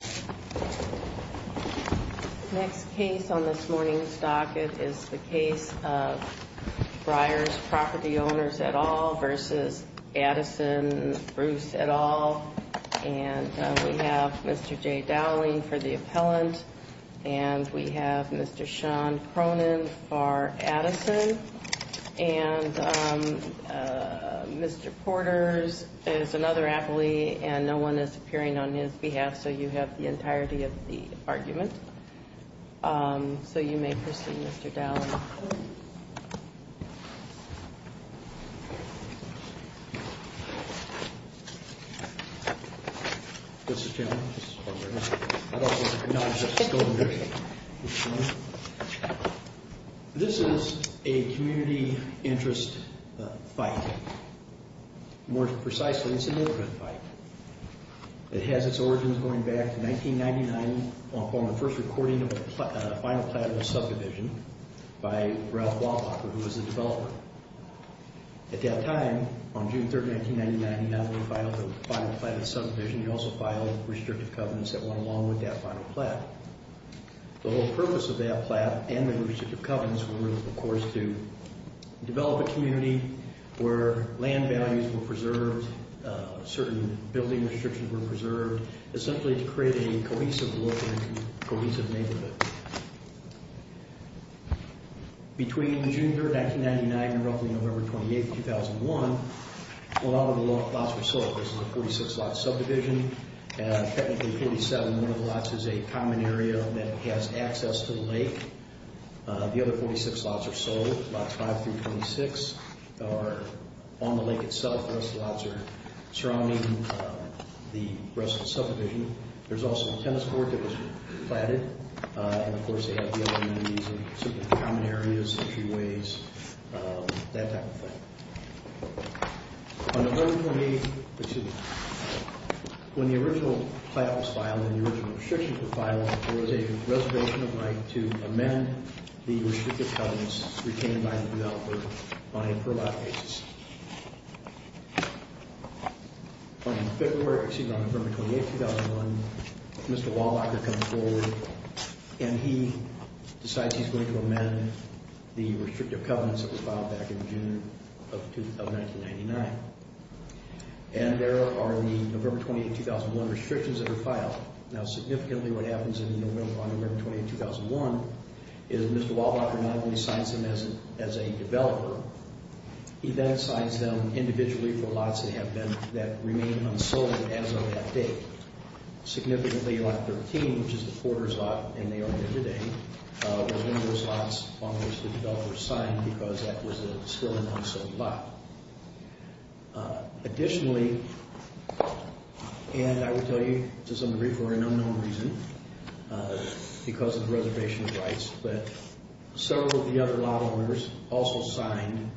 Bruce et al. Mr. J. Dowling for the appellant. Mr. Sean Cronin for Addison. Mr. Porter is another appellee and no one is appearing on his behalf so you have the entirety of the argument. So you may proceed Mr. Dowling. This is a community interest fight. More precisely it's a neighborhood fight. It has its origins going back to 1999 on the first recording of the final plat of the subdivision by Ralph Walpacher who was the developer. At that time, on June 3, 1999, not only filed the final plat of the subdivision, he also filed restrictive covenants that went along with that final plat. The whole purpose of that plat and the restrictive covenants were, of course, to develop a community where land values were preserved, certain building restrictions were preserved, essentially to create a cohesive neighborhood. Between June 3, 1999 and roughly November 28, 2001, a lot of the lots were sold. This is a 46 lot subdivision and technically 47, one of the lots is a boat, lots 5 through 26 are on the lake itself. The rest of the lots are surrounding the rest of the subdivision. There's also a tennis court that was platted and, of course, they have the other communities and some common areas, entryways, that type of thing. On November 28, when the original plat was filed and the original restriction was filed, there was a reservation of right to amend the restrictive covenants retained by the New Alpert on a per lot basis. On February, excuse me, on November 28, 2001, Mr. Waldocker comes forward and he decides he's going to amend the restrictive covenants that were filed back in June of 1999. And there are the November 28, 2001 restrictions that were filed. Now, significantly what happens on November 28, 2001, is Mr. Waldocker not only signs them as a developer, he then signs them individually for lots that have been, that remain unsold as of that date. Significantly, lot 13, which is the Porter's lot, and they are here today, was one of those lots on which the developer signed because that was still an unsold lot. Additionally, and I will tell you to some degree for an unknown reason, because of the reservation of rights, but several of the other lot owners also signed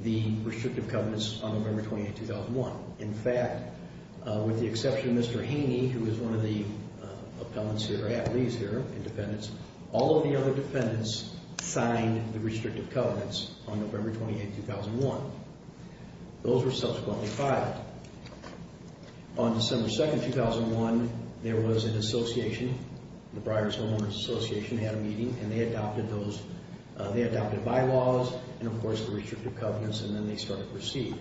the restrictive covenants on November 28, 2001. In fact, with the exception of Mr. Haney, who is one of the appellants here, or at least here, and defendants, all of the other defendants signed the restrictive covenants on November 28, 2001. Those were subsequently filed. On December 2, 2001, there was an association, the Briars Homeowners Association had a meeting, and they adopted those, they adopted bylaws, and of course the restrictive covenants, and then they started to proceed.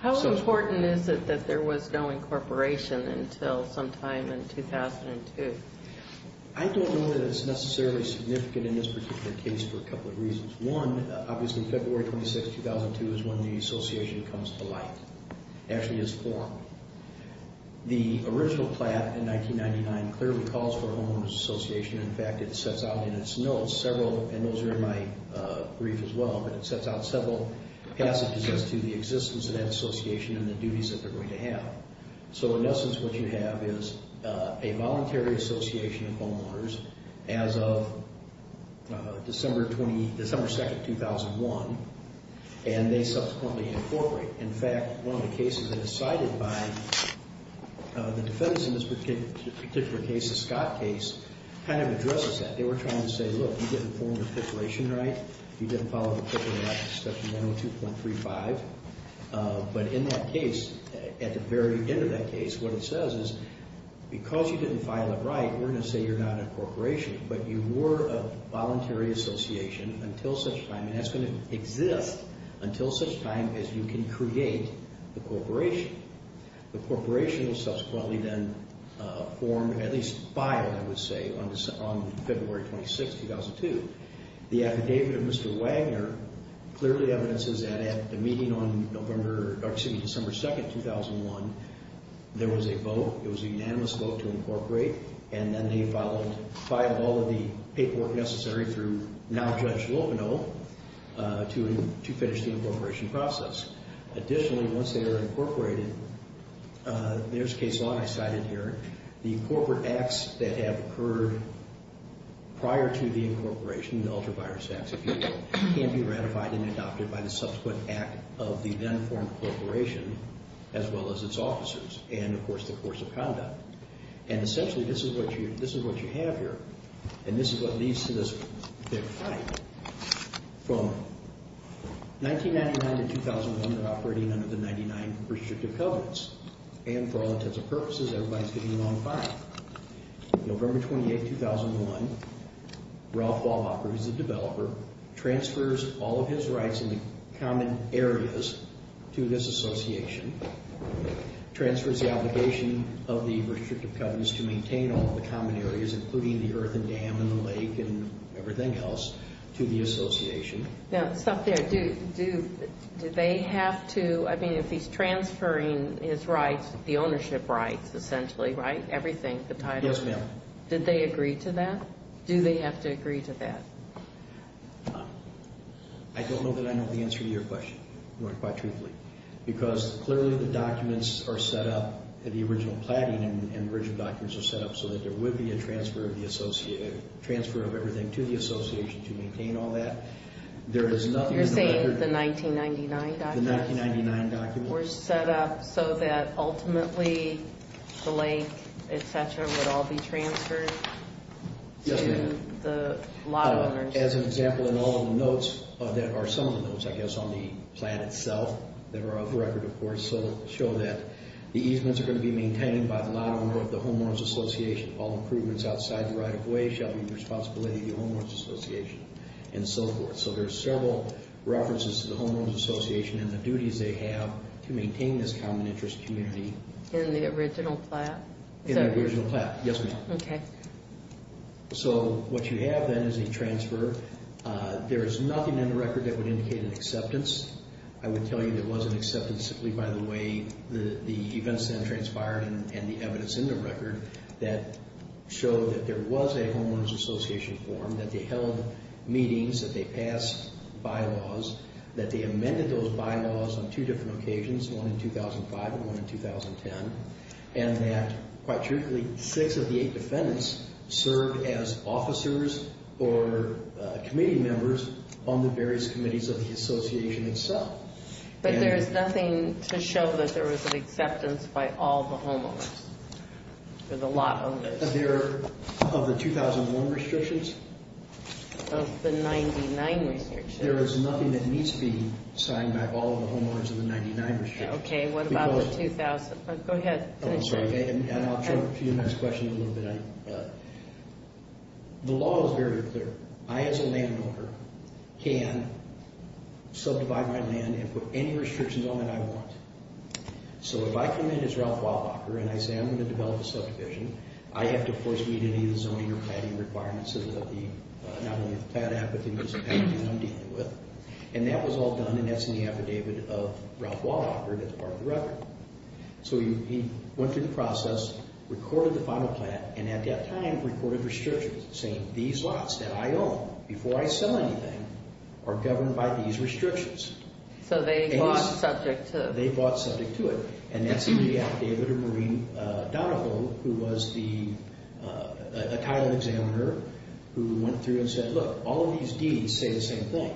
How important is it that there was no incorporation until sometime in 2002? I don't know that it's necessarily significant in this particular case for a couple of reasons. One, obviously February 26, 2002 is when the association comes to light, actually is formed. The original plat in 1999 clearly calls for a homeowners association. In fact, it sets out in its notes several, and those are in my brief as well, but it sets out several passages as to the existence of that association and the duties that they're going to have. So in essence, what you have is a voluntary association of homeowners as of December 2, 2001, and they subsequently incorporate. In fact, one of the cases that is cited by the defendants in this particular case, the Scott case, kind of addresses that. They were trying to say, look, you didn't form the articulation right, you didn't follow the articulation, section 902.35, but in that case, at the very end of that case, what it says is, because you didn't file it right, we're going to say you're not an incorporation, but you were a voluntary association until such time, and that's going to exist until such time as you can create the incorporation. The incorporation will subsequently then form, at least file, I would say, on February 26, 2002. The affidavit of Mr. Wagner clearly evidences that at the meeting on November, or excuse me, December 2, 2001, there was a vote, it was a unanimous vote to incorporate, and then they filed all of the paperwork necessary through now Judge Loveno to finish the incorporation process. Additionally, once they are incorporated, there's case law I cited here, the corporate acts that have occurred prior to the incorporation, the ultra-virus acts, can be ratified and adopted by the subsequent act of the then-formed corporation, as well as its officers, and of course, the course of conduct. And essentially, this is what you have here, and this is what leads to this fight. From 1999 to 2001, they're operating under the 99 Restrictive Covenants, and for all intents and purposes, everybody's getting along fine. November 28, 2001, Ralph Walbacher, who's the developer, transfers all of his rights in the common areas to this association, transfers the obligation of the Restrictive Covenants to maintain all of the common areas, including the earth and dam and the lake and everything else, to the association. Now, stop there. Do they have to, I mean, if he's transferring his rights, the ownership rights, essentially, right? Everything, the title. Yes, ma'am. Did they agree to that? Do they have to agree to that? I don't know that I know the answer to your question, quite truthfully, because clearly the documents are set up, the original planning and original documents are set up so that there would be a transfer of the associated, transfer of everything to the association to maintain all that. There is nothing in the record. You're saying the 1999 documents? The 1999 documents. Were set up so that ultimately the lake, et cetera, would all be transferred to the lot owners? Yes, ma'am. As an example, in all of the notes, or there are some of the notes, I guess, on the plan itself, that are off record, of course, show that the easements are going to be maintained by the lot owner of the homeowners association. All improvements outside the right of way shall be the responsibility of the homeowners association and so forth. So there's several references to the homeowners association and the duties they have to maintain this common interest community. In the original plan? In the original plan. Yes, ma'am. Okay. So what you have then is a transfer. There is nothing in the record that would indicate an acceptance. I would tell you there was an acceptance simply by the way the events then transpired and the evidence in the record that showed that there was a homeowners association form, that they held meetings, that they passed bylaws, that they amended those bylaws on two different occasions, one in 2005 and one in 2010, and that, quite truthfully, six of the eight defendants served as officers or committee members on the various committees of the association itself. But there is nothing to show that there was an acceptance by all the homeowners or the lot owners? Of the 2001 restrictions? Of the 99 restrictions. There is nothing that needs to be signed by all the homeowners in the 99 restrictions. Okay, what about the 2000? Go ahead, finish up. I'm sorry, and I'll jump to your next question in a little bit. The law is very clear. I, as a landowner, can subdivide my land and put any restrictions on it I want. So if I come in as Ralph Waldocker and I say I'm going to develop a subdivision, I have to, of course, meet any of the zoning or planning requirements of the, not only of the plant app, but the use of packages I'm dealing with. And that was all done, and that's in the affidavit of Ralph Waldocker, that's part of the record. So he went through the process, recorded the final plan, and at that time recorded restrictions, saying these lots that I own, before I sell anything, are governed by these restrictions. So they bought subject to it? They bought subject to it. And that's in the affidavit of Maureen Donoville, who was the Thailand examiner, who went through and said, look, all of these deeds say the same thing.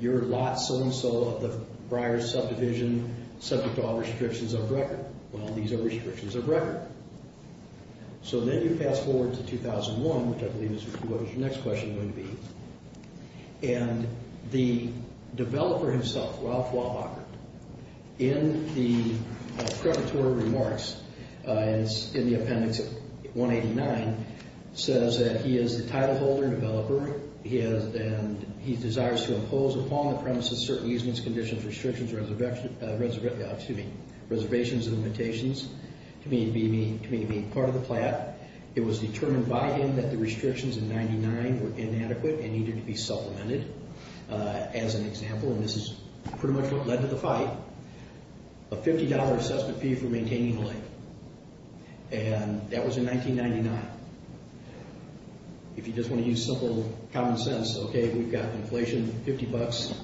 Your lot so-and-so of the Breyer subdivision, subject to all restrictions of record. Well, these are restrictions of record. So then you pass forward to 2001, which I believe is what your next question is going to be. And the developer himself, Ralph Waldocker, in the preparatory remarks in the appendix 189, says that he is the title holder and developer, and he desires to impose upon the premises certain easements, conditions, restrictions, reservations, and limitations, to meaning part of the plat. It was determined by him that the restrictions in 99 were inadequate and needed to be supplemented. As an example, and this is pretty much what led to the fight, a $50 assessment fee for maintaining the lake. And that was in 1999. If you just want to use simple common sense, okay, we've got inflation, $50.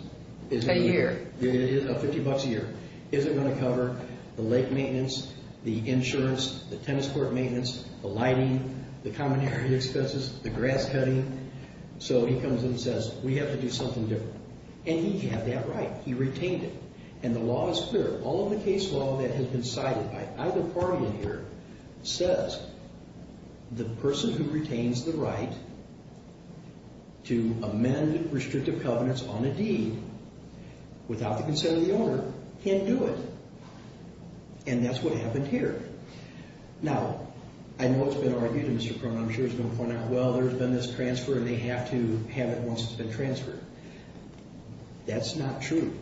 A year. $50 a year. Is it going to cover the lake maintenance, the insurance, the tennis court maintenance, the lighting, the common area expenses, the grass cutting? So he comes in and says, we have to do something different. And he had that right. He retained it. And the law is clear. All of the case law that has been cited by either party in here says the person who retains the right to amend restrictive covenants on a deed without the consent of the owner can't do it. And that's what happened here. Now, I know it's been argued, and Mr. Cronin, I'm sure, is going to point out, well, there's been this transfer and they have to have it once it's been transferred. That's not true.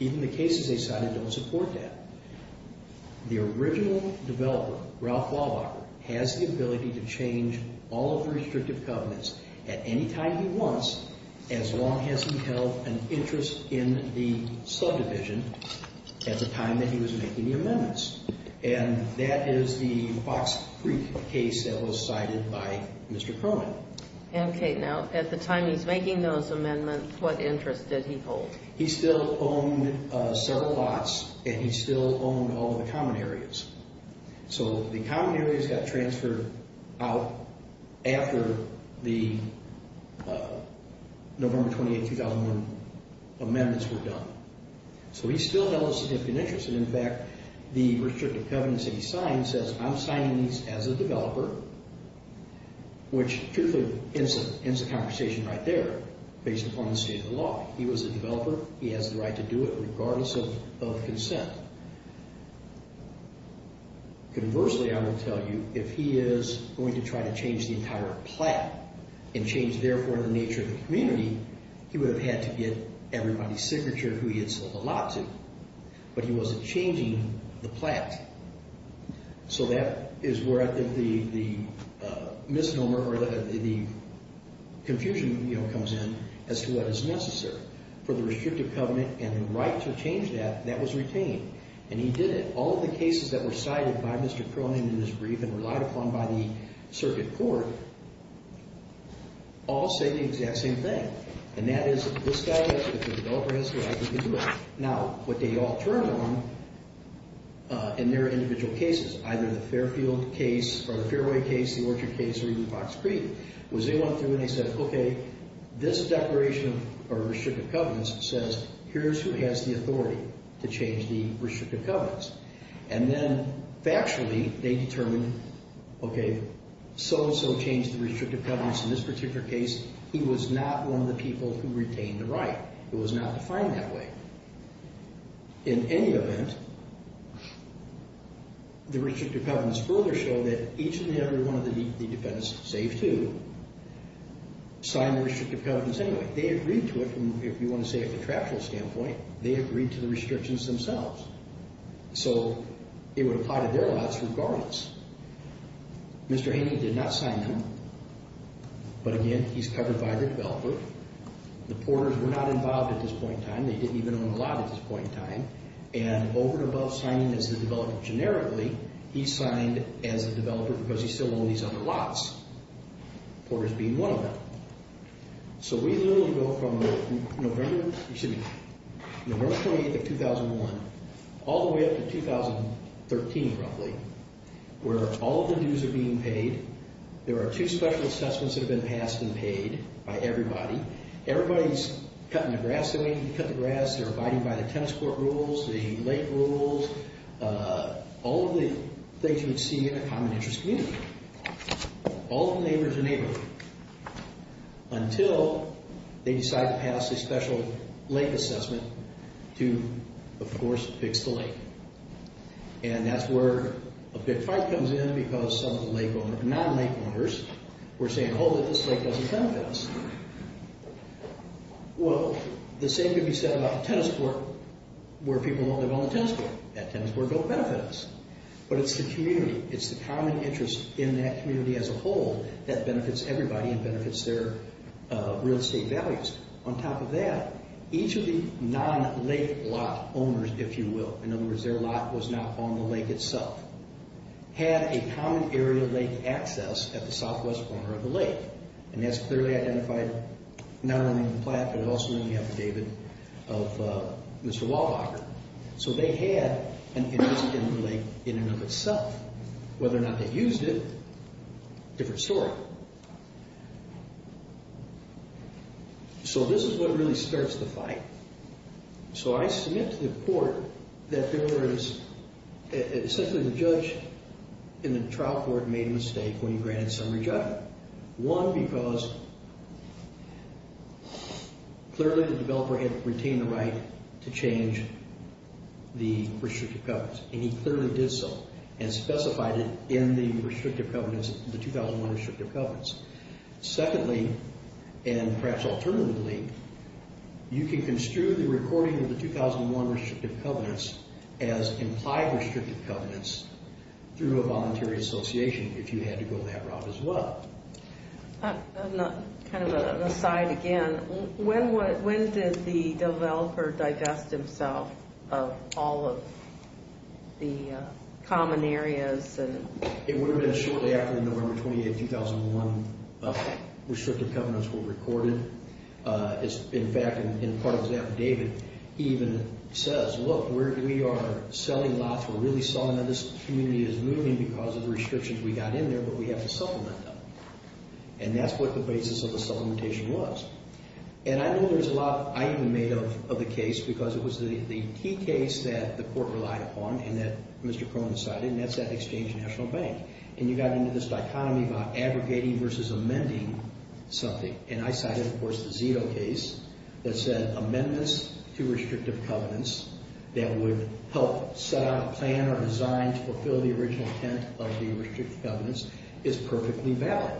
Even the cases they cited don't support that. The original developer, Ralph Walbacher, has the ability to change all of the restrictive covenants at any time he wants as long as he held an interest in the subdivision at the time that he was making the amendments. And that is the Fox Creek case that was cited by Mr. Cronin. Okay. Now, at the time he's making those amendments, what interest did he hold? He still owned several lots and he still owned all of the common areas. So the common areas got transferred out after the November 28, 2001 amendments were done. So he still held a significant interest. In fact, the restrictive covenants that he signed says, I'm signing these as a developer, which, truthfully, ends the conversation right there based upon the state of the law. He was a developer. He has the right to do it regardless of consent. Conversely, I will tell you, if he is going to try to change the entire plot and change, therefore, the nature of the community, he would have had to get everybody's signature who he had sold the lot to. But he wasn't changing the plot. So that is where I think the misnomer or the confusion comes in as to what is necessary. For the restrictive covenant and the right to change that, that was retained. And he did it. All of the cases that were cited by Mr. Cronin in his brief and relied upon by the circuit court all say the exact same thing. And that is, this guy, if the developer has the right to do it. Now, what they all turned on in their individual cases, either the Fairfield case or the Fairway case, the Orchard case, or even Fox Creek, was they went through and they said, okay, this declaration of restrictive covenants says, here's who has the authority to change the restrictive covenants. And then, factually, they determined, okay, so-and-so changed the restrictive covenants in this particular case. He was not one of the people who retained the right. It was not defined that way. In any event, the restrictive covenants further show that each and every one of the defendants, save two, signed the restrictive covenants anyway. They agreed to it. And if you want to say it from a factual standpoint, they agreed to the restrictions themselves. So it would apply to their lots regardless. Mr. Haney did not sign them. But again, he's covered by the developer. The porters were not involved at this point in time. They didn't even own a lot at this point in time. And over and above signing as the developer generically, he signed as the developer because he still owned these other lots, porters being one of them. So we literally go from November 28th of 2001 all the way up to 2013, roughly, where all of the dues are being paid. There are two special assessments that have been passed and paid by everybody. Everybody's cutting the grass the way you cut the grass. They're abiding by the tennis court rules, the lake rules, all of the things you would see in a common interest community. All of the neighbor is a neighbor. Until they decide to pass a special lake assessment to, of course, fix the lake. And that's where a big fight comes in because some of the non-lake owners were saying, oh, this lake doesn't benefit us. Well, the same could be said about the tennis court where people don't live on the tennis court. That tennis court don't benefit us. But it's the community. It's the common interest in that community as a whole that benefits everybody and benefits their real estate values. On top of that, each of the non-lake lot owners, if you will, in other words, their lot was not on the lake itself, had a common area lake access at the southwest corner of the lake. And that's clearly identified not only in the plaque, but it also in the affidavit of Mr. Waldocker. So they had an interest in the lake in and of itself. Whether or not they used it, different story. So this is what really starts the fight. So I submit to the court that there was, essentially the judge in the trial court made a mistake when he granted summary judgment. One, because clearly the developer had retained the right to change the restrictive covenants, and he clearly did so and specified it in the restrictive covenants, the 2001 restrictive covenants. Secondly, and perhaps alternatively, you can construe the recording of the 2001 restrictive covenants as implied restrictive covenants through a voluntary association if you had to go that route as well. Kind of an aside again, when did the developer digest himself of all of the common areas? It would have been shortly after November 28, 2001. Restrictive covenants were recorded. In fact, in part of his affidavit, he even says, look, we are selling lots. We're really selling. Now, this community is moving because of the restrictions we got in there, but we have to supplement them. And that's what the basis of the supplementation was. And I know there's a lot I even made of the case because it was the key case that the court relied upon and that Mr. Cronin cited, and that's at Exchange National Bank. And you got into this dichotomy about aggregating versus amending something. And I cited, of course, the Zito case that said amendments to restrictive covenants that would help set out a plan or design to fulfill the original intent of the restrictive covenants is perfectly valid.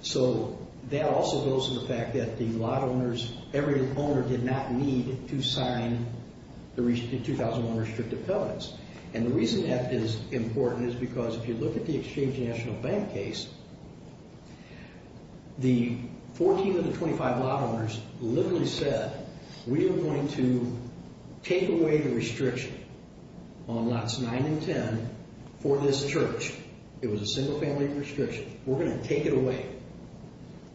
So that also goes to the fact that the lot owners, every owner did not need to sign the 2001 restrictive covenants. And the reason that is important is because if you look at the Exchange National Bank case, the 14 of the 25 lot owners literally said, we are going to take away the restriction on lots 9 and 10 for this church. It was a single-family restriction. We're going to take it away,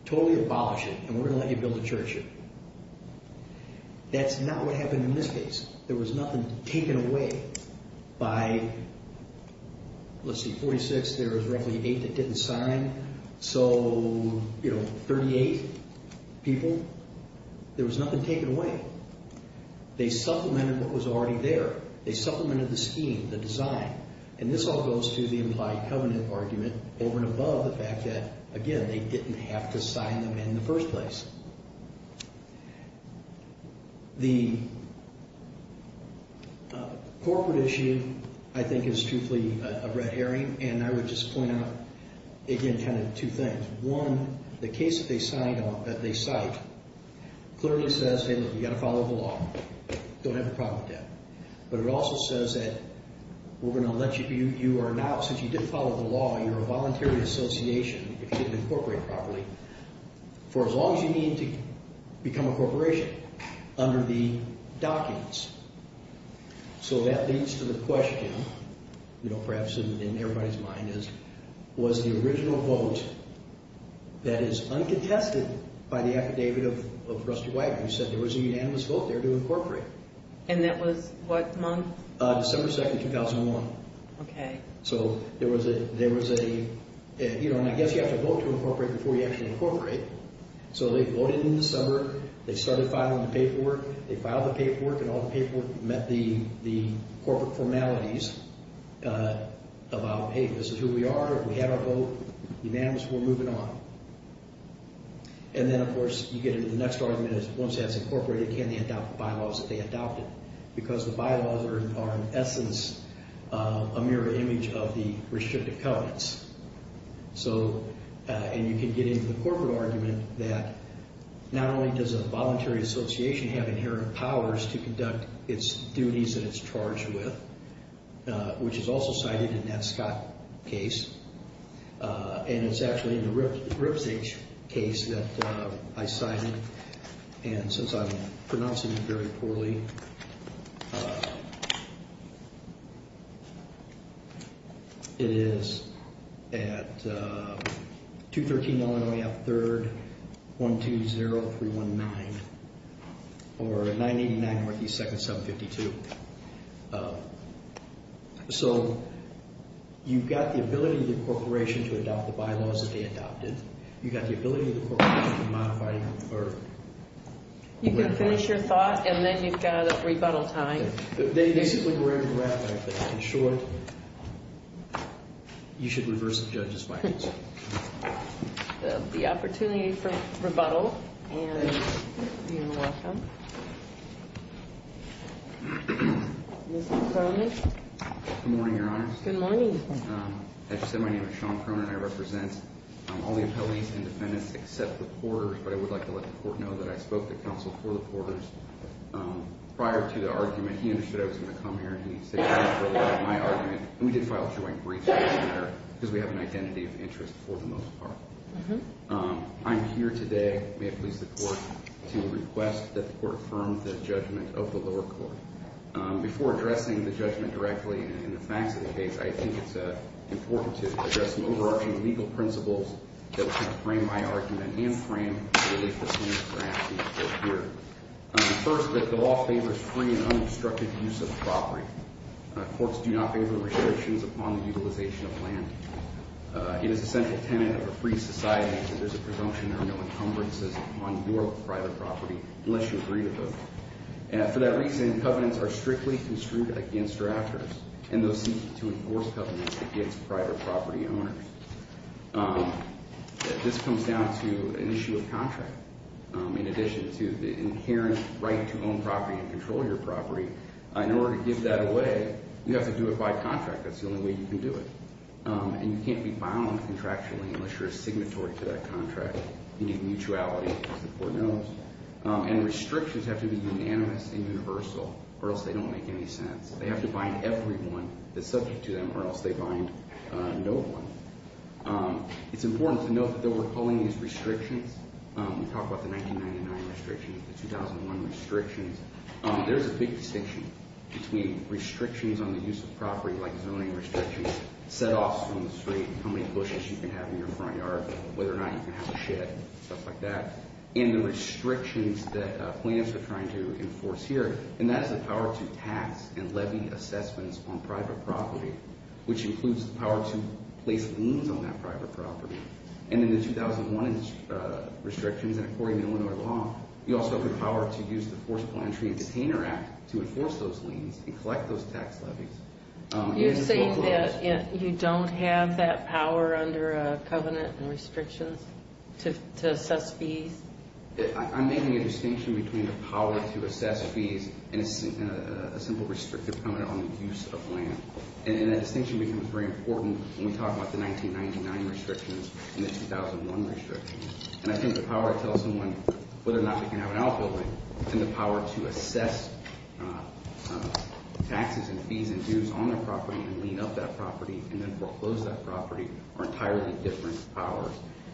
totally abolish it, and we're going to let you build a church here. That's not what happened in this case. There was nothing taken away by, let's see, 46. There was roughly 8 that didn't sign. So, you know, 38 people, there was nothing taken away. They supplemented what was already there. They supplemented the scheme, the design. And this all goes to the implied covenant argument over and above the fact that, again, they didn't have to sign them in the first place. The corporate issue, I think, is truthfully a red herring, and I would just point out, again, kind of two things. One, the case that they cite clearly says, hey, look, you've got to follow the law. Don't have a problem with that. But it also says that we're going to let you, you are now, since you did follow the law, you're a voluntary association if you didn't incorporate properly. For as long as you need to become a corporation under the dockets. So that leads to the question, you know, perhaps in everybody's mind is, was the original vote that is uncontested by the affidavit of Rusty Wagner who said there was a unanimous vote there to incorporate? And that was what month? December 2, 2001. Okay. So there was a, you know, and I guess you have to vote to incorporate before you actually incorporate. So they voted in December. They started filing the paperwork. They filed the paperwork, and all the paperwork met the corporate formalities about, hey, this is who we are. We have our vote. Unanimous, we're moving on. And then, of course, you get into the next argument is, once that's incorporated, can they adopt the bylaws that they adopted? Because the bylaws are, in essence, a mirror image of the restricted covenants. So, and you can get into the corporate argument that not only does a voluntary association have inherent powers to conduct its duties that it's charged with, which is also cited in that Scott case, and it's actually in the Ripsage case that I cited. And since I'm pronouncing it very poorly, it is at 213 Illinois Ave. 3rd, 120319, or 989 Northeast 2nd, 752. So you've got the ability of the corporation to adopt the bylaws that they adopted. You've got the ability of the corporation to modify and confer. You've got to finish your thought, and then you've got rebuttal time. They basically grabbed the rap, I think. In short, you should reverse the judge's findings. The opportunity for rebuttal, and you're welcome. Mr. Cronin. Good morning, Your Honor. Good morning. As you said, my name is Sean Cronin. I represent all the appellees and defendants except the porters, but I would like to let the Court know that I spoke to counsel for the porters. Prior to the argument, he understood I was going to come here, and he said he was going to provide my argument, and we did file a joint brief for this matter because we have an identity of interest for the most part. I'm here today, may it please the Court, to request that the Court affirm the judgment of the lower court. Before addressing the judgment directly and the facts of the case, I think it's important to address some overarching legal principles that frame my argument and frame the latest one that perhaps needs to appear. First, that the law favors free and unobstructed use of property. Courts do not favor restrictions upon the utilization of land. It is a central tenet of a free society that there's a presumption there are no encumbrances on your private property unless you agree to both. For that reason, covenants are strictly construed against your actors, and those seeking to enforce covenants against private property owners. This comes down to an issue of contract. In addition to the inherent right to own property and control your property, in order to give that away, you have to do it by contract. That's the only way you can do it. And you can't be bound contractually unless you're a signatory to that contract. You need mutuality, as the Court knows. And restrictions have to be unanimous and universal or else they don't make any sense. They have to bind everyone that's subject to them or else they bind no one. It's important to note that though we're calling these restrictions, we talk about the 1999 restrictions, the 2001 restrictions, there's a big distinction between restrictions on the use of property, like zoning restrictions, set-offs from the street, how many bushes you can have in your front yard, whether or not you can have a shed, stuff like that, and the restrictions that plaintiffs are trying to enforce here. And that is the power to tax and levy assessments on private property, which includes the power to place liens on that private property. And in the 2001 restrictions, and according to Illinois law, you also have the power to use the Forceful Entry and Detainer Act to enforce those liens and collect those tax levies. You're saying that you don't have that power under a covenant and restrictions to assess fees? I'm making a distinction between the power to assess fees and a simple restrictive covenant on the use of land. And that distinction becomes very important when we talk about the 1999 restrictions and the 2001 restrictions. And I think the power to tell someone whether or not they can have an outbuilding and the power to assess taxes and fees and dues on their property and lien up that property and then foreclose that property are entirely different powers.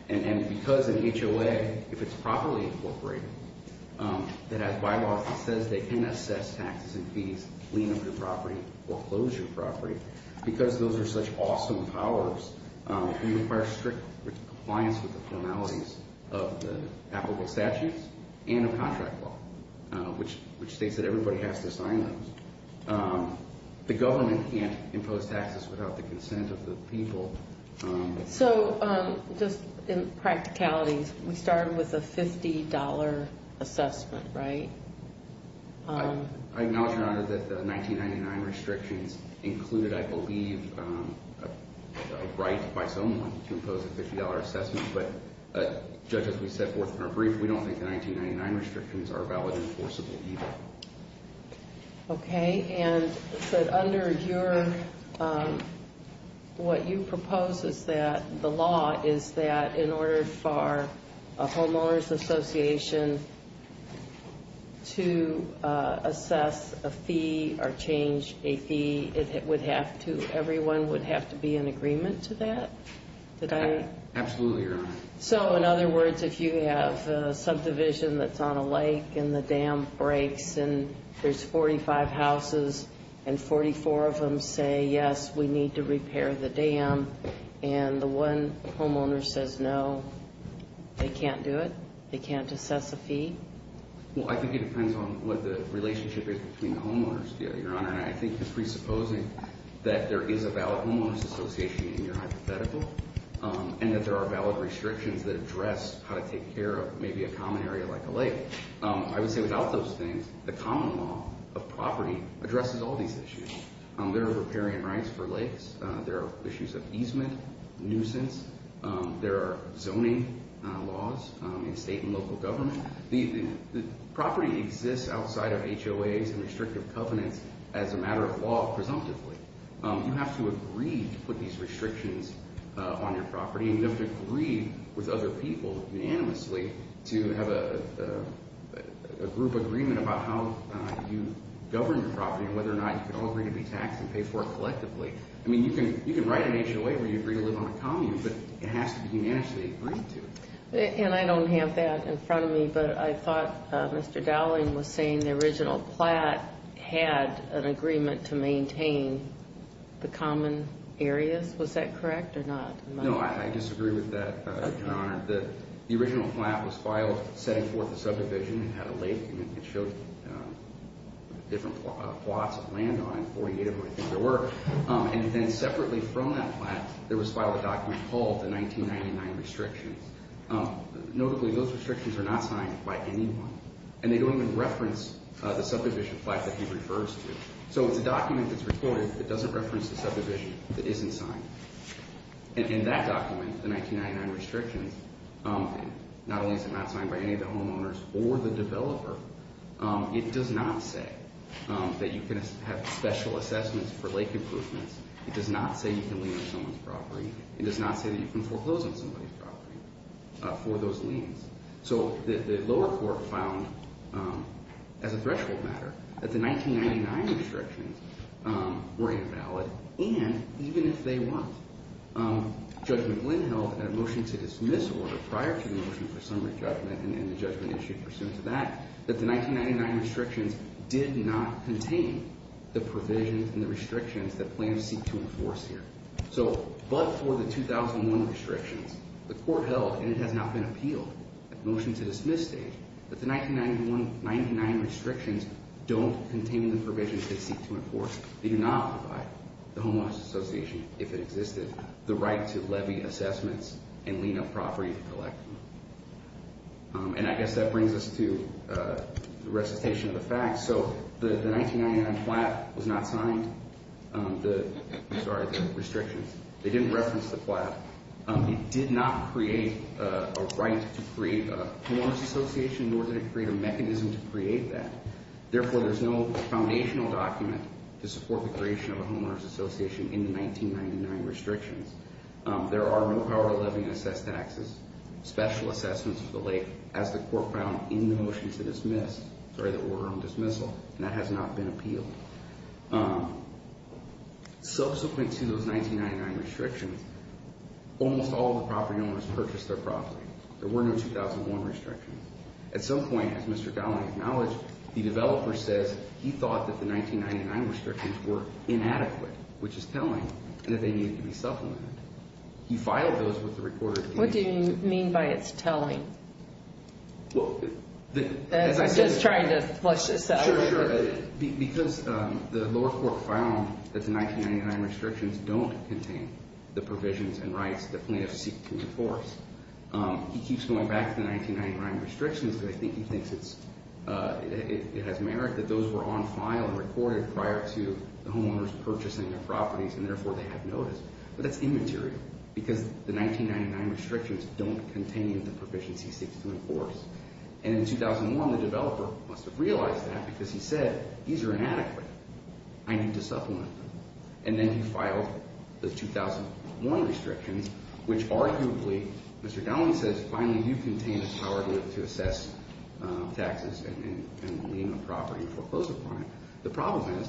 And because in HOA, if it's properly incorporated, that has bylaws that says they can assess taxes and fees, lien up your property, or close your property, because those are such awesome powers, we require strict compliance with the formalities of the applicable statutes and of contract law, which states that everybody has to sign those. The government can't impose taxes without the consent of the people. So just in practicalities, we started with a $50 assessment, right? I acknowledge, Your Honor, that the 1999 restrictions included, I believe, a right by someone to impose a $50 assessment. But, Judge, as we set forth in our brief, we don't think the 1999 restrictions are valid enforceable either. Okay. And under your, what you propose is that the law is that in order for a homeowners association to assess a fee or change a fee, it would have to, everyone would have to be in agreement to that? Absolutely, Your Honor. So, in other words, if you have a subdivision that's on a lake and the dam breaks and there's 45 houses and 44 of them say, yes, we need to repair the dam, and the one homeowner says no, they can't do it? They can't assess a fee? Well, I think it depends on what the relationship is between the homeowners, Your Honor. And I think just presupposing that there is a valid homeowners association in your hypothetical, and that there are valid restrictions that address how to take care of maybe a common area like a lake, I would say without those things, the common law of property addresses all these issues. There are repairing rights for lakes. There are issues of easement, nuisance. There are zoning laws in state and local government. The property exists outside of HOAs and restrictive covenants as a matter of law presumptively. You have to agree to put these restrictions on your property, and you have to agree with other people unanimously to have a group agreement about how you govern your property and whether or not you can all agree to be taxed and paid for collectively. I mean, you can write an HOA where you agree to live on a commune, but it has to be unanimously agreed to. And I don't have that in front of me, but I thought Mr. Dowling was saying the original plat had an agreement to maintain the common areas. Was that correct or not? No, I disagree with that, Your Honor. The original plat was filed setting forth a subdivision and had a lake, and it showed different plots of land on it, 48 of them I think there were. And then separately from that plat, there was filed a document called the 1999 restrictions. Notably, those restrictions are not signed by anyone, and they don't even reference the subdivision plat that he refers to. So it's a document that's recorded that doesn't reference the subdivision that isn't signed. And that document, the 1999 restrictions, not only is it not signed by any of the homeowners or the developer, it does not say that you can have special assessments for lake improvements. It does not say you can lien on someone's property. It does not say that you can foreclose on somebody's property for those liens. So the lower court found as a threshold matter that the 1999 restrictions were invalid, and even if they were, Judge McGlynn held at a motion to dismiss order prior to the motion for summary judgment and the judgment issued pursuant to that, that the 1999 restrictions did not contain the provisions and the restrictions that plans seek to enforce here. So but for the 2001 restrictions, the court held, and it has not been appealed at the motion to dismiss stage, that the 1999 restrictions don't contain the provisions they seek to enforce. They do not provide the homeowners association, if it existed, the right to levy assessments and lien on property to collect them. And I guess that brings us to the recitation of the facts. So the 1999 plat was not signed. I'm sorry, the restrictions. They didn't reference the plat. It did not create a right to create a homeowners association nor did it create a mechanism to create that. Therefore, there's no foundational document to support the creation of a homeowners association in the 1999 restrictions. There are no power of levy to assess taxes, special assessments of the late, as the court found in the motion to dismiss, sorry, the order on dismissal, and that has not been appealed. Subsequent to those 1999 restrictions, almost all of the property owners purchased their property. There were no 2001 restrictions. At some point, as Mr. Gowling acknowledged, the developer says he thought that the 1999 restrictions were inadequate, which is telling, and that they needed to be supplemented. He filed those with the recorder. What do you mean by it's telling? Well, as I said. I'm just trying to flush this out. Sure, sure. Because the lower court found that the 1999 restrictions don't contain the provisions and rights that plaintiffs seek to enforce, he keeps going back to the 1999 restrictions because I think he thinks it has merit that those were on file and recorded prior to the homeowners purchasing their properties, and therefore they have notice. But that's immaterial because the 1999 restrictions don't contain the provisions he seeks to enforce. And in 2001, the developer must have realized that because he said these are inadequate. I need to supplement them. And then he filed the 2001 restrictions, which arguably, Mr. Gowling says, finally do contain the power to assess taxes and lien on property and foreclose upon it. The problem is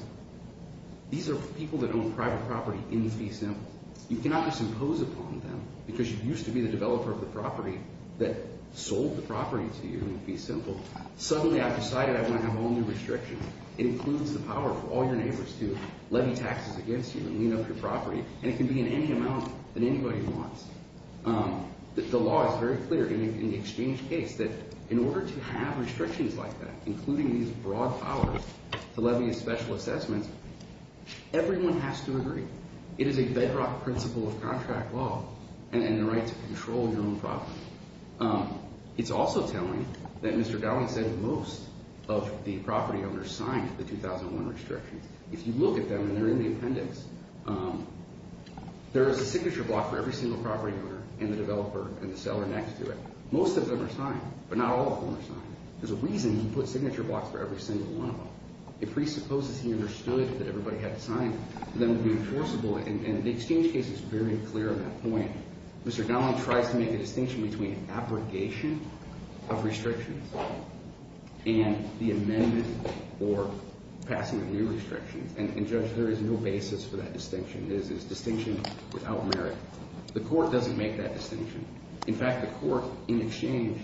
these are people that own private property in the fee system. You cannot just impose upon them because you used to be the developer of the property that sold the property to you. It would be simple. Suddenly I've decided I want to have all new restrictions. It includes the power for all your neighbors to levy taxes against you and lien up your property, and it can be in any amount that anybody wants. The law is very clear in the exchange case that in order to have restrictions like that, including these broad powers to levy a special assessment, everyone has to agree. It is a bedrock principle of contract law and the right to control your own property. It's also telling that Mr. Gowling said most of the property owners signed the 2001 restrictions. If you look at them and they're in the appendix, there is a signature block for every single property owner and the developer and the seller next to it. Most of them are signed, but not all of them are signed. There's a reason he put signature blocks for every single one of them. It presupposes he understood that everybody had to sign it and that it would be enforceable, and the exchange case is very clear on that point. Mr. Gowling tries to make a distinction between abrogation of restrictions and the amendment or passing of new restrictions, and, Judge, there is no basis for that distinction. It is a distinction without merit. The court doesn't make that distinction. In fact, the court in exchange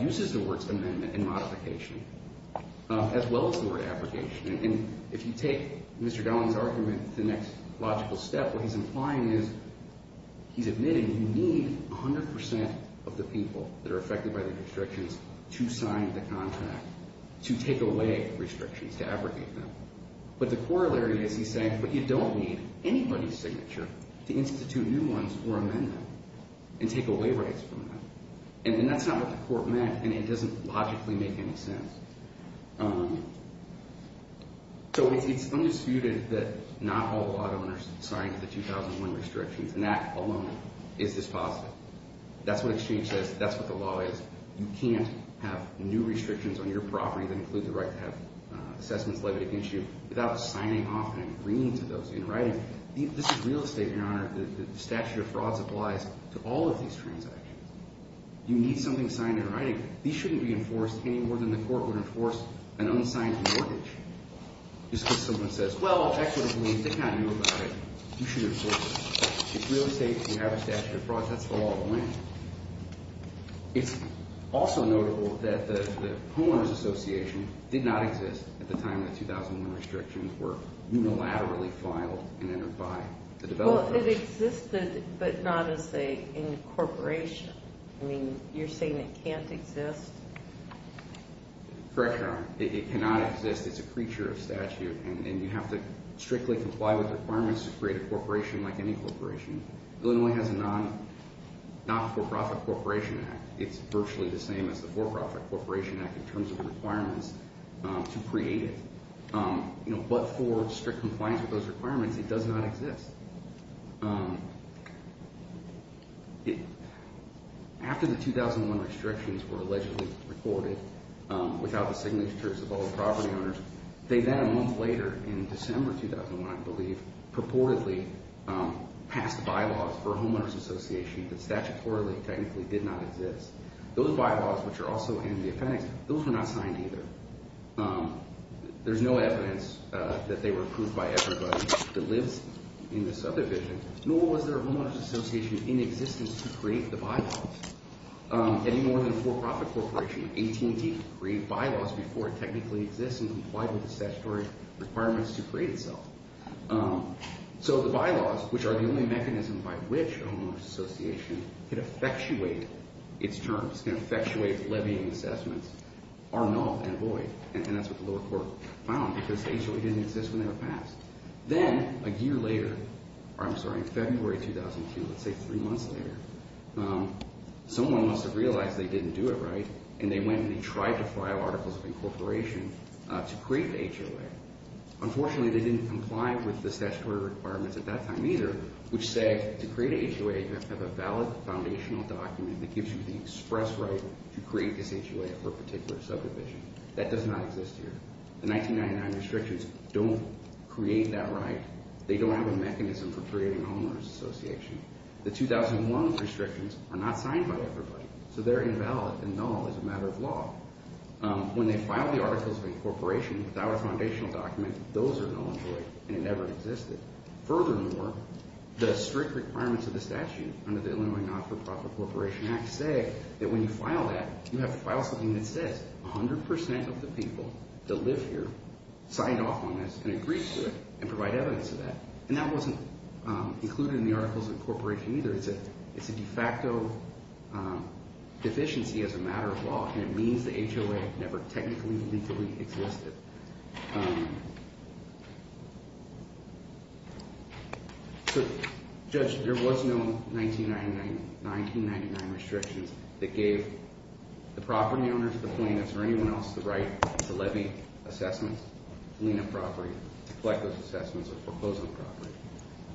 uses the words amendment and modification as well as the word abrogation, and if you take Mr. Gowling's argument to the next logical step, what he's implying is he's admitting you need 100% of the people that are affected by the restrictions to sign the contract, to take away restrictions, to abrogate them. But the corollary is he's saying, but you don't need anybody's signature to institute new ones or amend them and take away rights from them. And that's not what the court meant, and it doesn't logically make any sense. So it's undisputed that not all law owners signed the 2001 restrictions, and that alone is dispositive. That's what exchange says. That's what the law is. You can't have new restrictions on your property that include the right to have assessments levied against you without signing off and agreeing to those in writing. This is real estate, Your Honor. The statute of frauds applies to all of these transactions. You need something signed in writing. These shouldn't be enforced any more than the court would enforce an unsigned mortgage. Just because someone says, well, I couldn't believe they knew about it, you should enforce it. It's real estate, you have a statute of frauds, that's the law of the land. It's also notable that the Homeowners Association did not exist at the time the 2001 restrictions were unilaterally filed and entered by the developers. Well, it existed, but not as an incorporation. I mean, you're saying it can't exist? Correct, Your Honor. It cannot exist. It's a creature of statute, and you have to strictly comply with requirements to create a corporation like any corporation. Illinois has a non-for-profit corporation act. It's virtually the same as the for-profit corporation act in terms of requirements to create it. But for strict compliance with those requirements, it does not exist. After the 2001 restrictions were allegedly recorded without the signatures of all the property owners, they then a month later, in December 2001, I believe, purportedly passed bylaws for Homeowners Association that statutorily technically did not exist. Those bylaws, which are also in the appendix, those were not signed either. that lives in the property. Nor was there a Homeowners Association in existence to create the bylaws. Any more than a for-profit corporation, AT&T, could create bylaws before it technically exists and complied with the statutory requirements to create itself. So the bylaws, which are the only mechanism by which a Homeowners Association could effectuate its terms, can effectuate levying assessments, are null and void, and that's what the lower court found because the HOA didn't exist when they were passed. Then, a year later, I'm sorry, in February 2002, let's say three months later, someone must have realized they didn't do it right, and they went and they tried to file articles of incorporation to create the HOA. Unfortunately, they didn't comply with the statutory requirements at that time either, which said to create a HOA, you have to have a valid foundational document that gives you the express right to create this HOA for a particular subdivision. That does not exist here. The 1999 restrictions don't create that right. They don't have a mechanism for creating a Homeowners Association. The 2001 restrictions are not signed by everybody, so they're invalid and null as a matter of law. When they filed the articles of incorporation without a foundational document, those are null and void, and it never existed. Furthermore, the strict requirements of the statute under the Illinois Not-for-Profit Corporation Act say that when you file that, you have to file something that says 100% of the people that live here signed off on this and agreed to it and provide evidence of that. And that wasn't included in the articles of incorporation either. It's a de facto deficiency as a matter of law, and it means the HOA never technically, legally existed. So, Judge, there was no 1999 restrictions that gave the property owners, the plaintiffs, or anyone else the right to levy assessments, to lien a property, to collect those assessments, or foreclose on the property.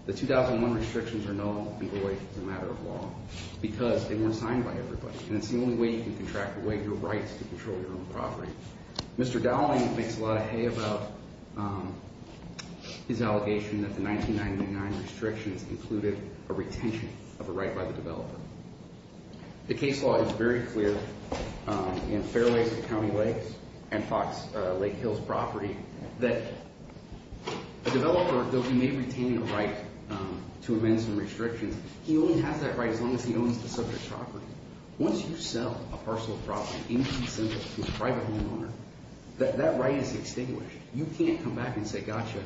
The 2001 restrictions are null and void as a matter of law because they weren't signed by everybody, and it's the only way you can contract away your rights to control your own property. Mr. Dowling makes a lot of hay about his allegation that the 1999 restrictions included a retention of a right by the developer. The case law is very clear in Fairways and County Lakes and Lake Hills Property that a developer, though he may retain a right to amend some restrictions, he only has that right as long as he owns the subject property. Once you sell a parcel of property, anything simple to a private homeowner, that right is extinguished. You can't come back and say, gotcha,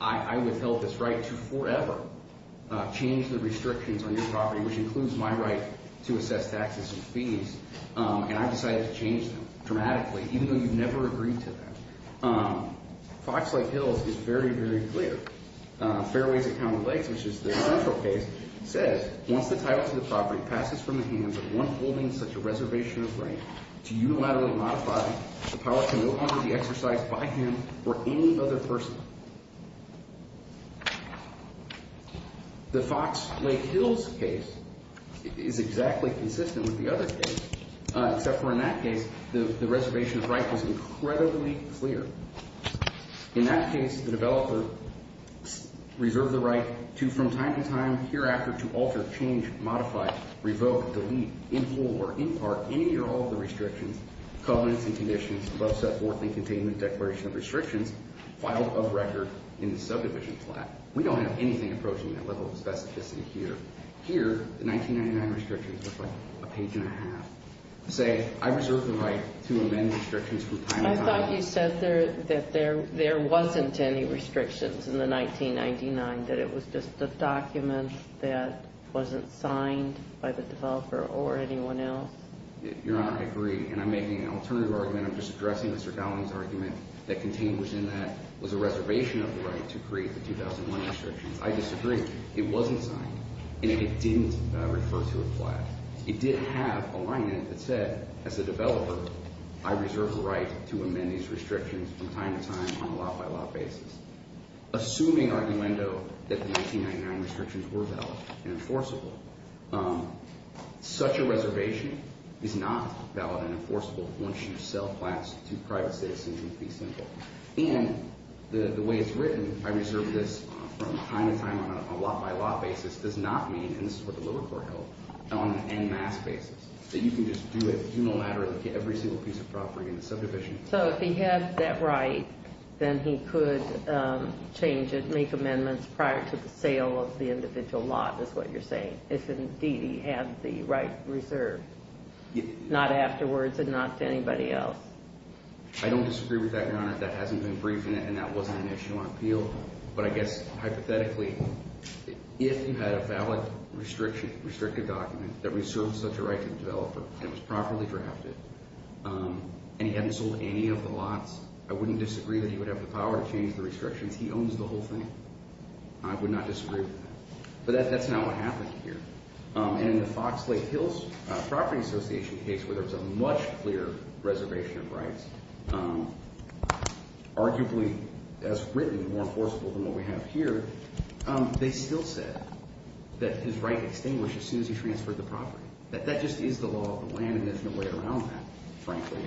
I withheld this right to forever change the restrictions on your property, which includes my right to assess taxes and fees, and I've decided to change them dramatically, even though you've never agreed to that. Fox Lake Hills is very, very clear. Fairways and County Lakes, which is the central case, says, once the title to the property passes from the hands of one holding such a reservation of right to unilaterally modify, the power can no longer be exercised by him or any other person. The Fox Lake Hills case is exactly consistent with the other case, except for in that case, the reservation of right was incredibly clear. In that case, the developer reserved the right to, from time to time, hereafter, to alter, change, modify, revoke, delete, import, or impart any or all of the restrictions, covenants, and conditions above set forth in the Containment Declaration of Restrictions filed above record in the subdivision plaque. We don't have anything approaching that level of specificity here. Here, the 1999 restrictions look like a page and a half. Say, I reserve the right to amend restrictions from time to time. I thought you said that there wasn't any restrictions in the 1999, that it was just a document that wasn't signed by the developer or anyone else. Your Honor, I agree, and I'm making an alternative argument. I'm just addressing Mr. Dowling's argument that contained within that was a reservation of the right to create the 2001 restrictions. I disagree. It wasn't signed. And it didn't refer to a plaque. It did have a line in it that said, as a developer, I reserve the right to amend these restrictions from time to time on a lot-by-lot basis. Assuming, argumento, that the 1999 restrictions were valid and enforceable, such a reservation is not valid and enforceable once you sell plans to private citizens, it would be simple. And the way it's written, I reserve this from time to time on a lot-by-lot basis, does not mean, and this is what the lower court held, on an en masse basis. That you can just do it unilaterally for every single piece of property in the subdivision. So if he had that right, then he could change it, make amendments prior to the sale of the individual lot, is what you're saying. If, indeed, he had the right reserved. Not afterwards and not to anybody else. I don't disagree with that, Your Honor. That hasn't been briefed in it and that wasn't an issue on appeal. But I guess, hypothetically, if you had a valid restriction, restricted document, that reserved such a right to the developer and was properly drafted, and he hadn't sold any of the lots, I wouldn't disagree that he would have the power to change the restrictions. He owns the whole thing. I would not disagree with that. But that's not what happened here. And in the Fox Lake Hills Property Association case, where there's a much clearer reservation of rights, arguably, as written, more enforceable than what we have here, they still said that his right extinguished as soon as he transferred the property. That just is the law of the land and there's no way around that, frankly.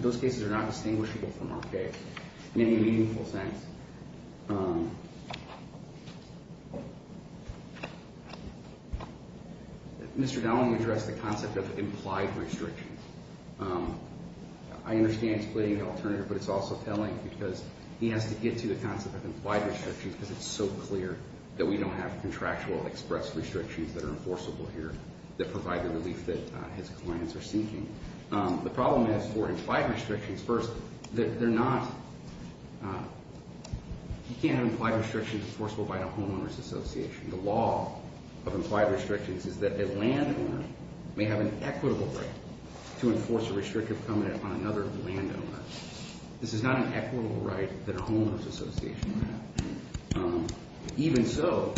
Those cases are not distinguishable from our case in any meaningful sense. Mr. Downing addressed the concept of implied restrictions. I understand he's pleading the alternative, but it's also telling because he has to get to the concept of implied restrictions because it's so clear that we don't have contractual express restrictions that are enforceable here that provide the relief that his clients are seeking. The problem is for implied restrictions, first, that they're not... You can't have implied restrictions enforceable by a homeowner's association. The law of implied restrictions is that a landowner may have an equitable right to enforce a restrictive covenant on another landowner. This is not an equitable right that a homeowner's association would have. Even so,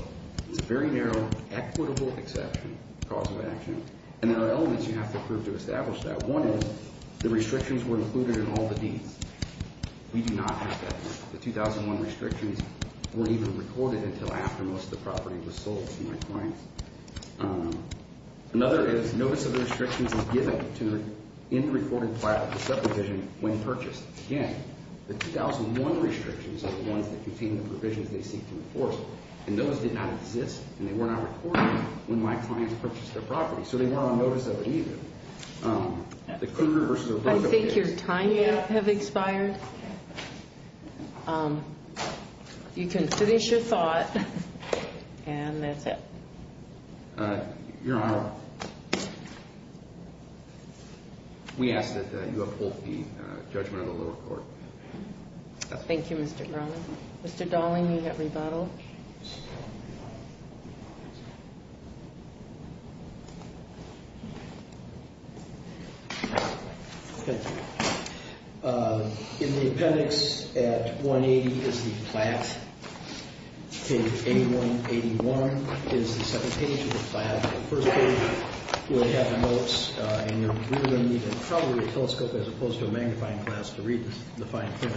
it's a very narrow, equitable exception to the cause of action. And there are elements you have to prove to establish that. One is, the restrictions were included in all the deeds. We do not have that right. The 2001 restrictions weren't even recorded until after most of the property was sold to my clients. Another is, notice of the restrictions was given to an in-recorded file of the subdivision when purchased. Again, the 2001 restrictions are the ones that contain the provisions they seek to enforce. And those did not exist, and they were not recorded when my clients purchased their property. So they weren't on notice of it, either. The Cougar versus... I think your time may have expired. You can finish your thought, and that's it. Your Honor, we ask that you uphold the judgment of the lower court. Thank you, Mr. Grumman. Mr. Dalling, you have rebuttal. Okay. In the appendix at 180 is the plat. Page 8181 is the second page of the plat. The first page will have the notes, and you're really going to need probably a telescope as opposed to a magnifying glass to read the fine print.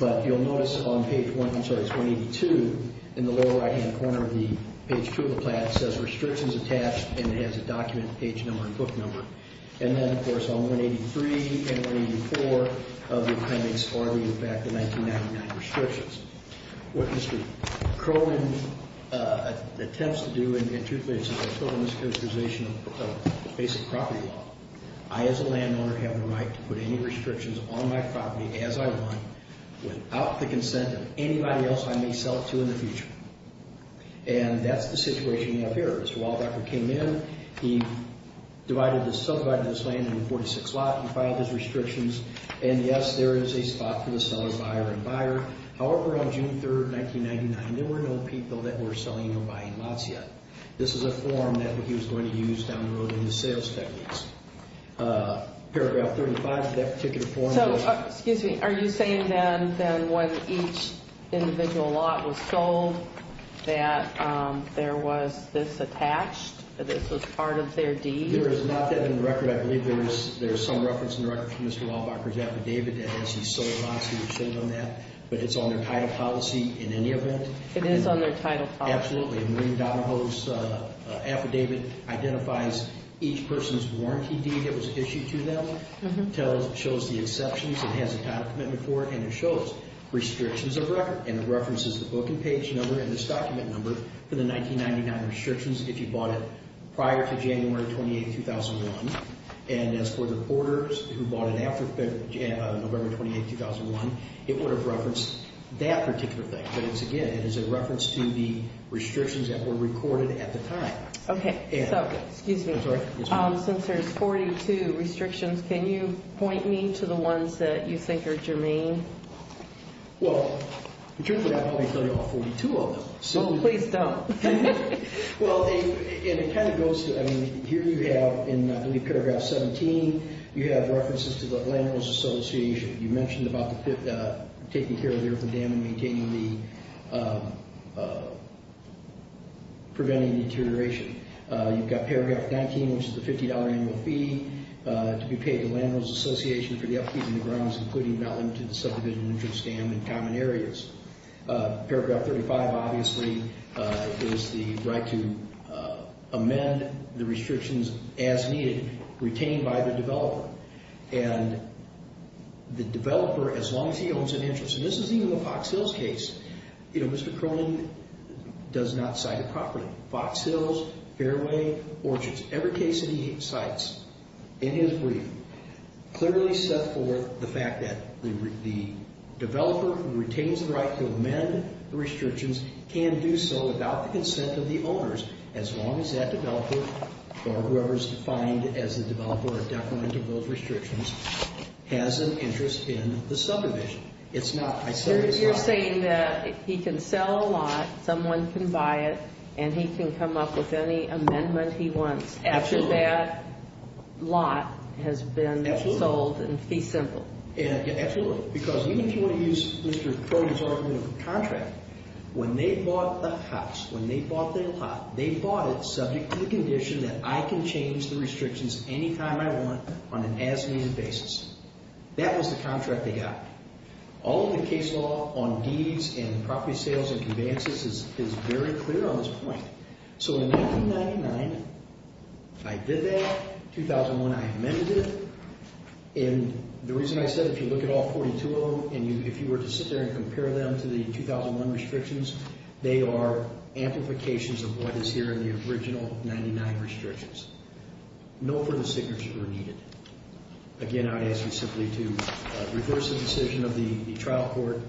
But you'll notice on page 1... I'm sorry, it's 182. In the lower right-hand corner of the page 2 of the plat says, Restrictions Attached, and it has a document, page number, and book number. And then, of course, on 183 and 184 of the appendix, are the, in fact, the 1999 restrictions. What Mr. Crowman attempts to do, in truth, is a total mischaracterization of the basic property law. I, as a landowner, have the right to put any restrictions on my property as I want, without the consent of anybody else I may sell it to in the future. And that's the situation you have here. Mr. Wildocker came in. He subdivided this land into 46 lots. He filed his restrictions. And, yes, there is a spot for the seller, buyer, and buyer. However, on June 3, 1999, there were no people that were selling or buying lots yet. This is a form that he was going to use down the road in the sales techniques. Paragraph 35 of that particular form... So, excuse me, are you saying then that when each individual lot was sold that there was this attached? That this was part of their deed? There is not that in the record. I believe there is some reference in the record from Mr. Wildocker's affidavit that says he sold lots. He was sold on that. But it's on their title policy in any event. It is on their title policy? Absolutely. And Maureen Donahoe's affidavit identifies each person's warranty deed that was issued to them, shows the exceptions, it has a title commitment for it, and it shows restrictions of record. And it references the book and page number and this document number for the 1999 restrictions if you bought it prior to January 28, 2001. And as for the porters who bought it after November 28, 2001, it would have referenced that particular thing. But again, it is a reference to the restrictions that were recorded at the time. Okay. So, excuse me. Since there's 42 restrictions, can you point me to the ones that you think are germane? Well, the truth of that, I'll probably tell you all 42 of them. Well, please don't. Well, and it kind of goes to, I mean, here you have in, I believe, paragraph 17, you have references to the Landowners Association. You mentioned about taking care of the urban dam and maintaining the, preventing the deterioration. You've got paragraph 19, which is the $50 annual fee to be paid to Landowners Association for the upkeep and the grounds, including not limited to subdivision interest dam and common areas. Paragraph 35, obviously, is the right to amend the restrictions as needed, retained by the developer. And the developer, as long as he owns an interest, and this is even the Fox Hills case, you know, Mr. Cronin does not cite it properly. Fox Hills, Fairway, Orchards, every case that he cites in his brief clearly set forth the fact that the developer who retains the right to amend the restrictions can do so without the consent of the owners, as long as that developer, or whoever is defined as the developer or decrement of those restrictions, has an interest in the subdivision. It's not, I said it's not. You're saying that he can sell a lot, someone can buy it, and he can come up with any amendment he wants after that lot has been sold in fee simple. Absolutely, because even if you want to use Mr. Cronin's argument of a contract, when they bought the house, when they bought the lot, they bought it subject to the condition that I can change the restrictions any time I want on an as-needed basis. That was the contract they got. All of the case law on deeds and property sales and conveyances is very clear on this point. So in 1999, I did that. 2001, I amended it. And the reason I said, if you look at all 42 of them, and if you were to sit there and compare them to the 2001 restrictions, they are amplifications of what is here in the original 99 restrictions. No further signatures were needed. Again, I ask you simply to reverse the decision of the trial court,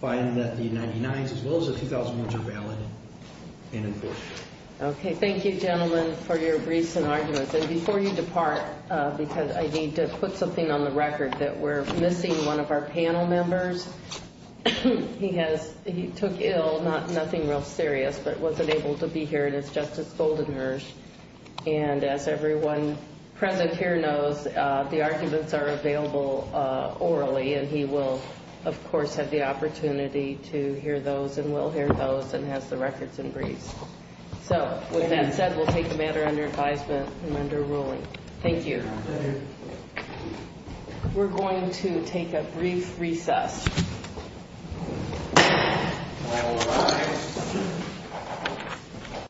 find that the 99s as well as the 2001s are valid and enforceable. Okay, thank you, gentlemen, for your briefs and arguments. And before you depart, because I need to put something on the record that we're missing one of our panel members. He took ill, nothing real serious, but wasn't able to be here, and it's Justice Goldenberg. And as everyone present here knows, the arguments are available orally, and he will, of course, have the opportunity to hear those and will hear those and has the records and briefs. So with that said, we'll take the matter under advisement and under ruling. Thank you. We're going to take a brief recess.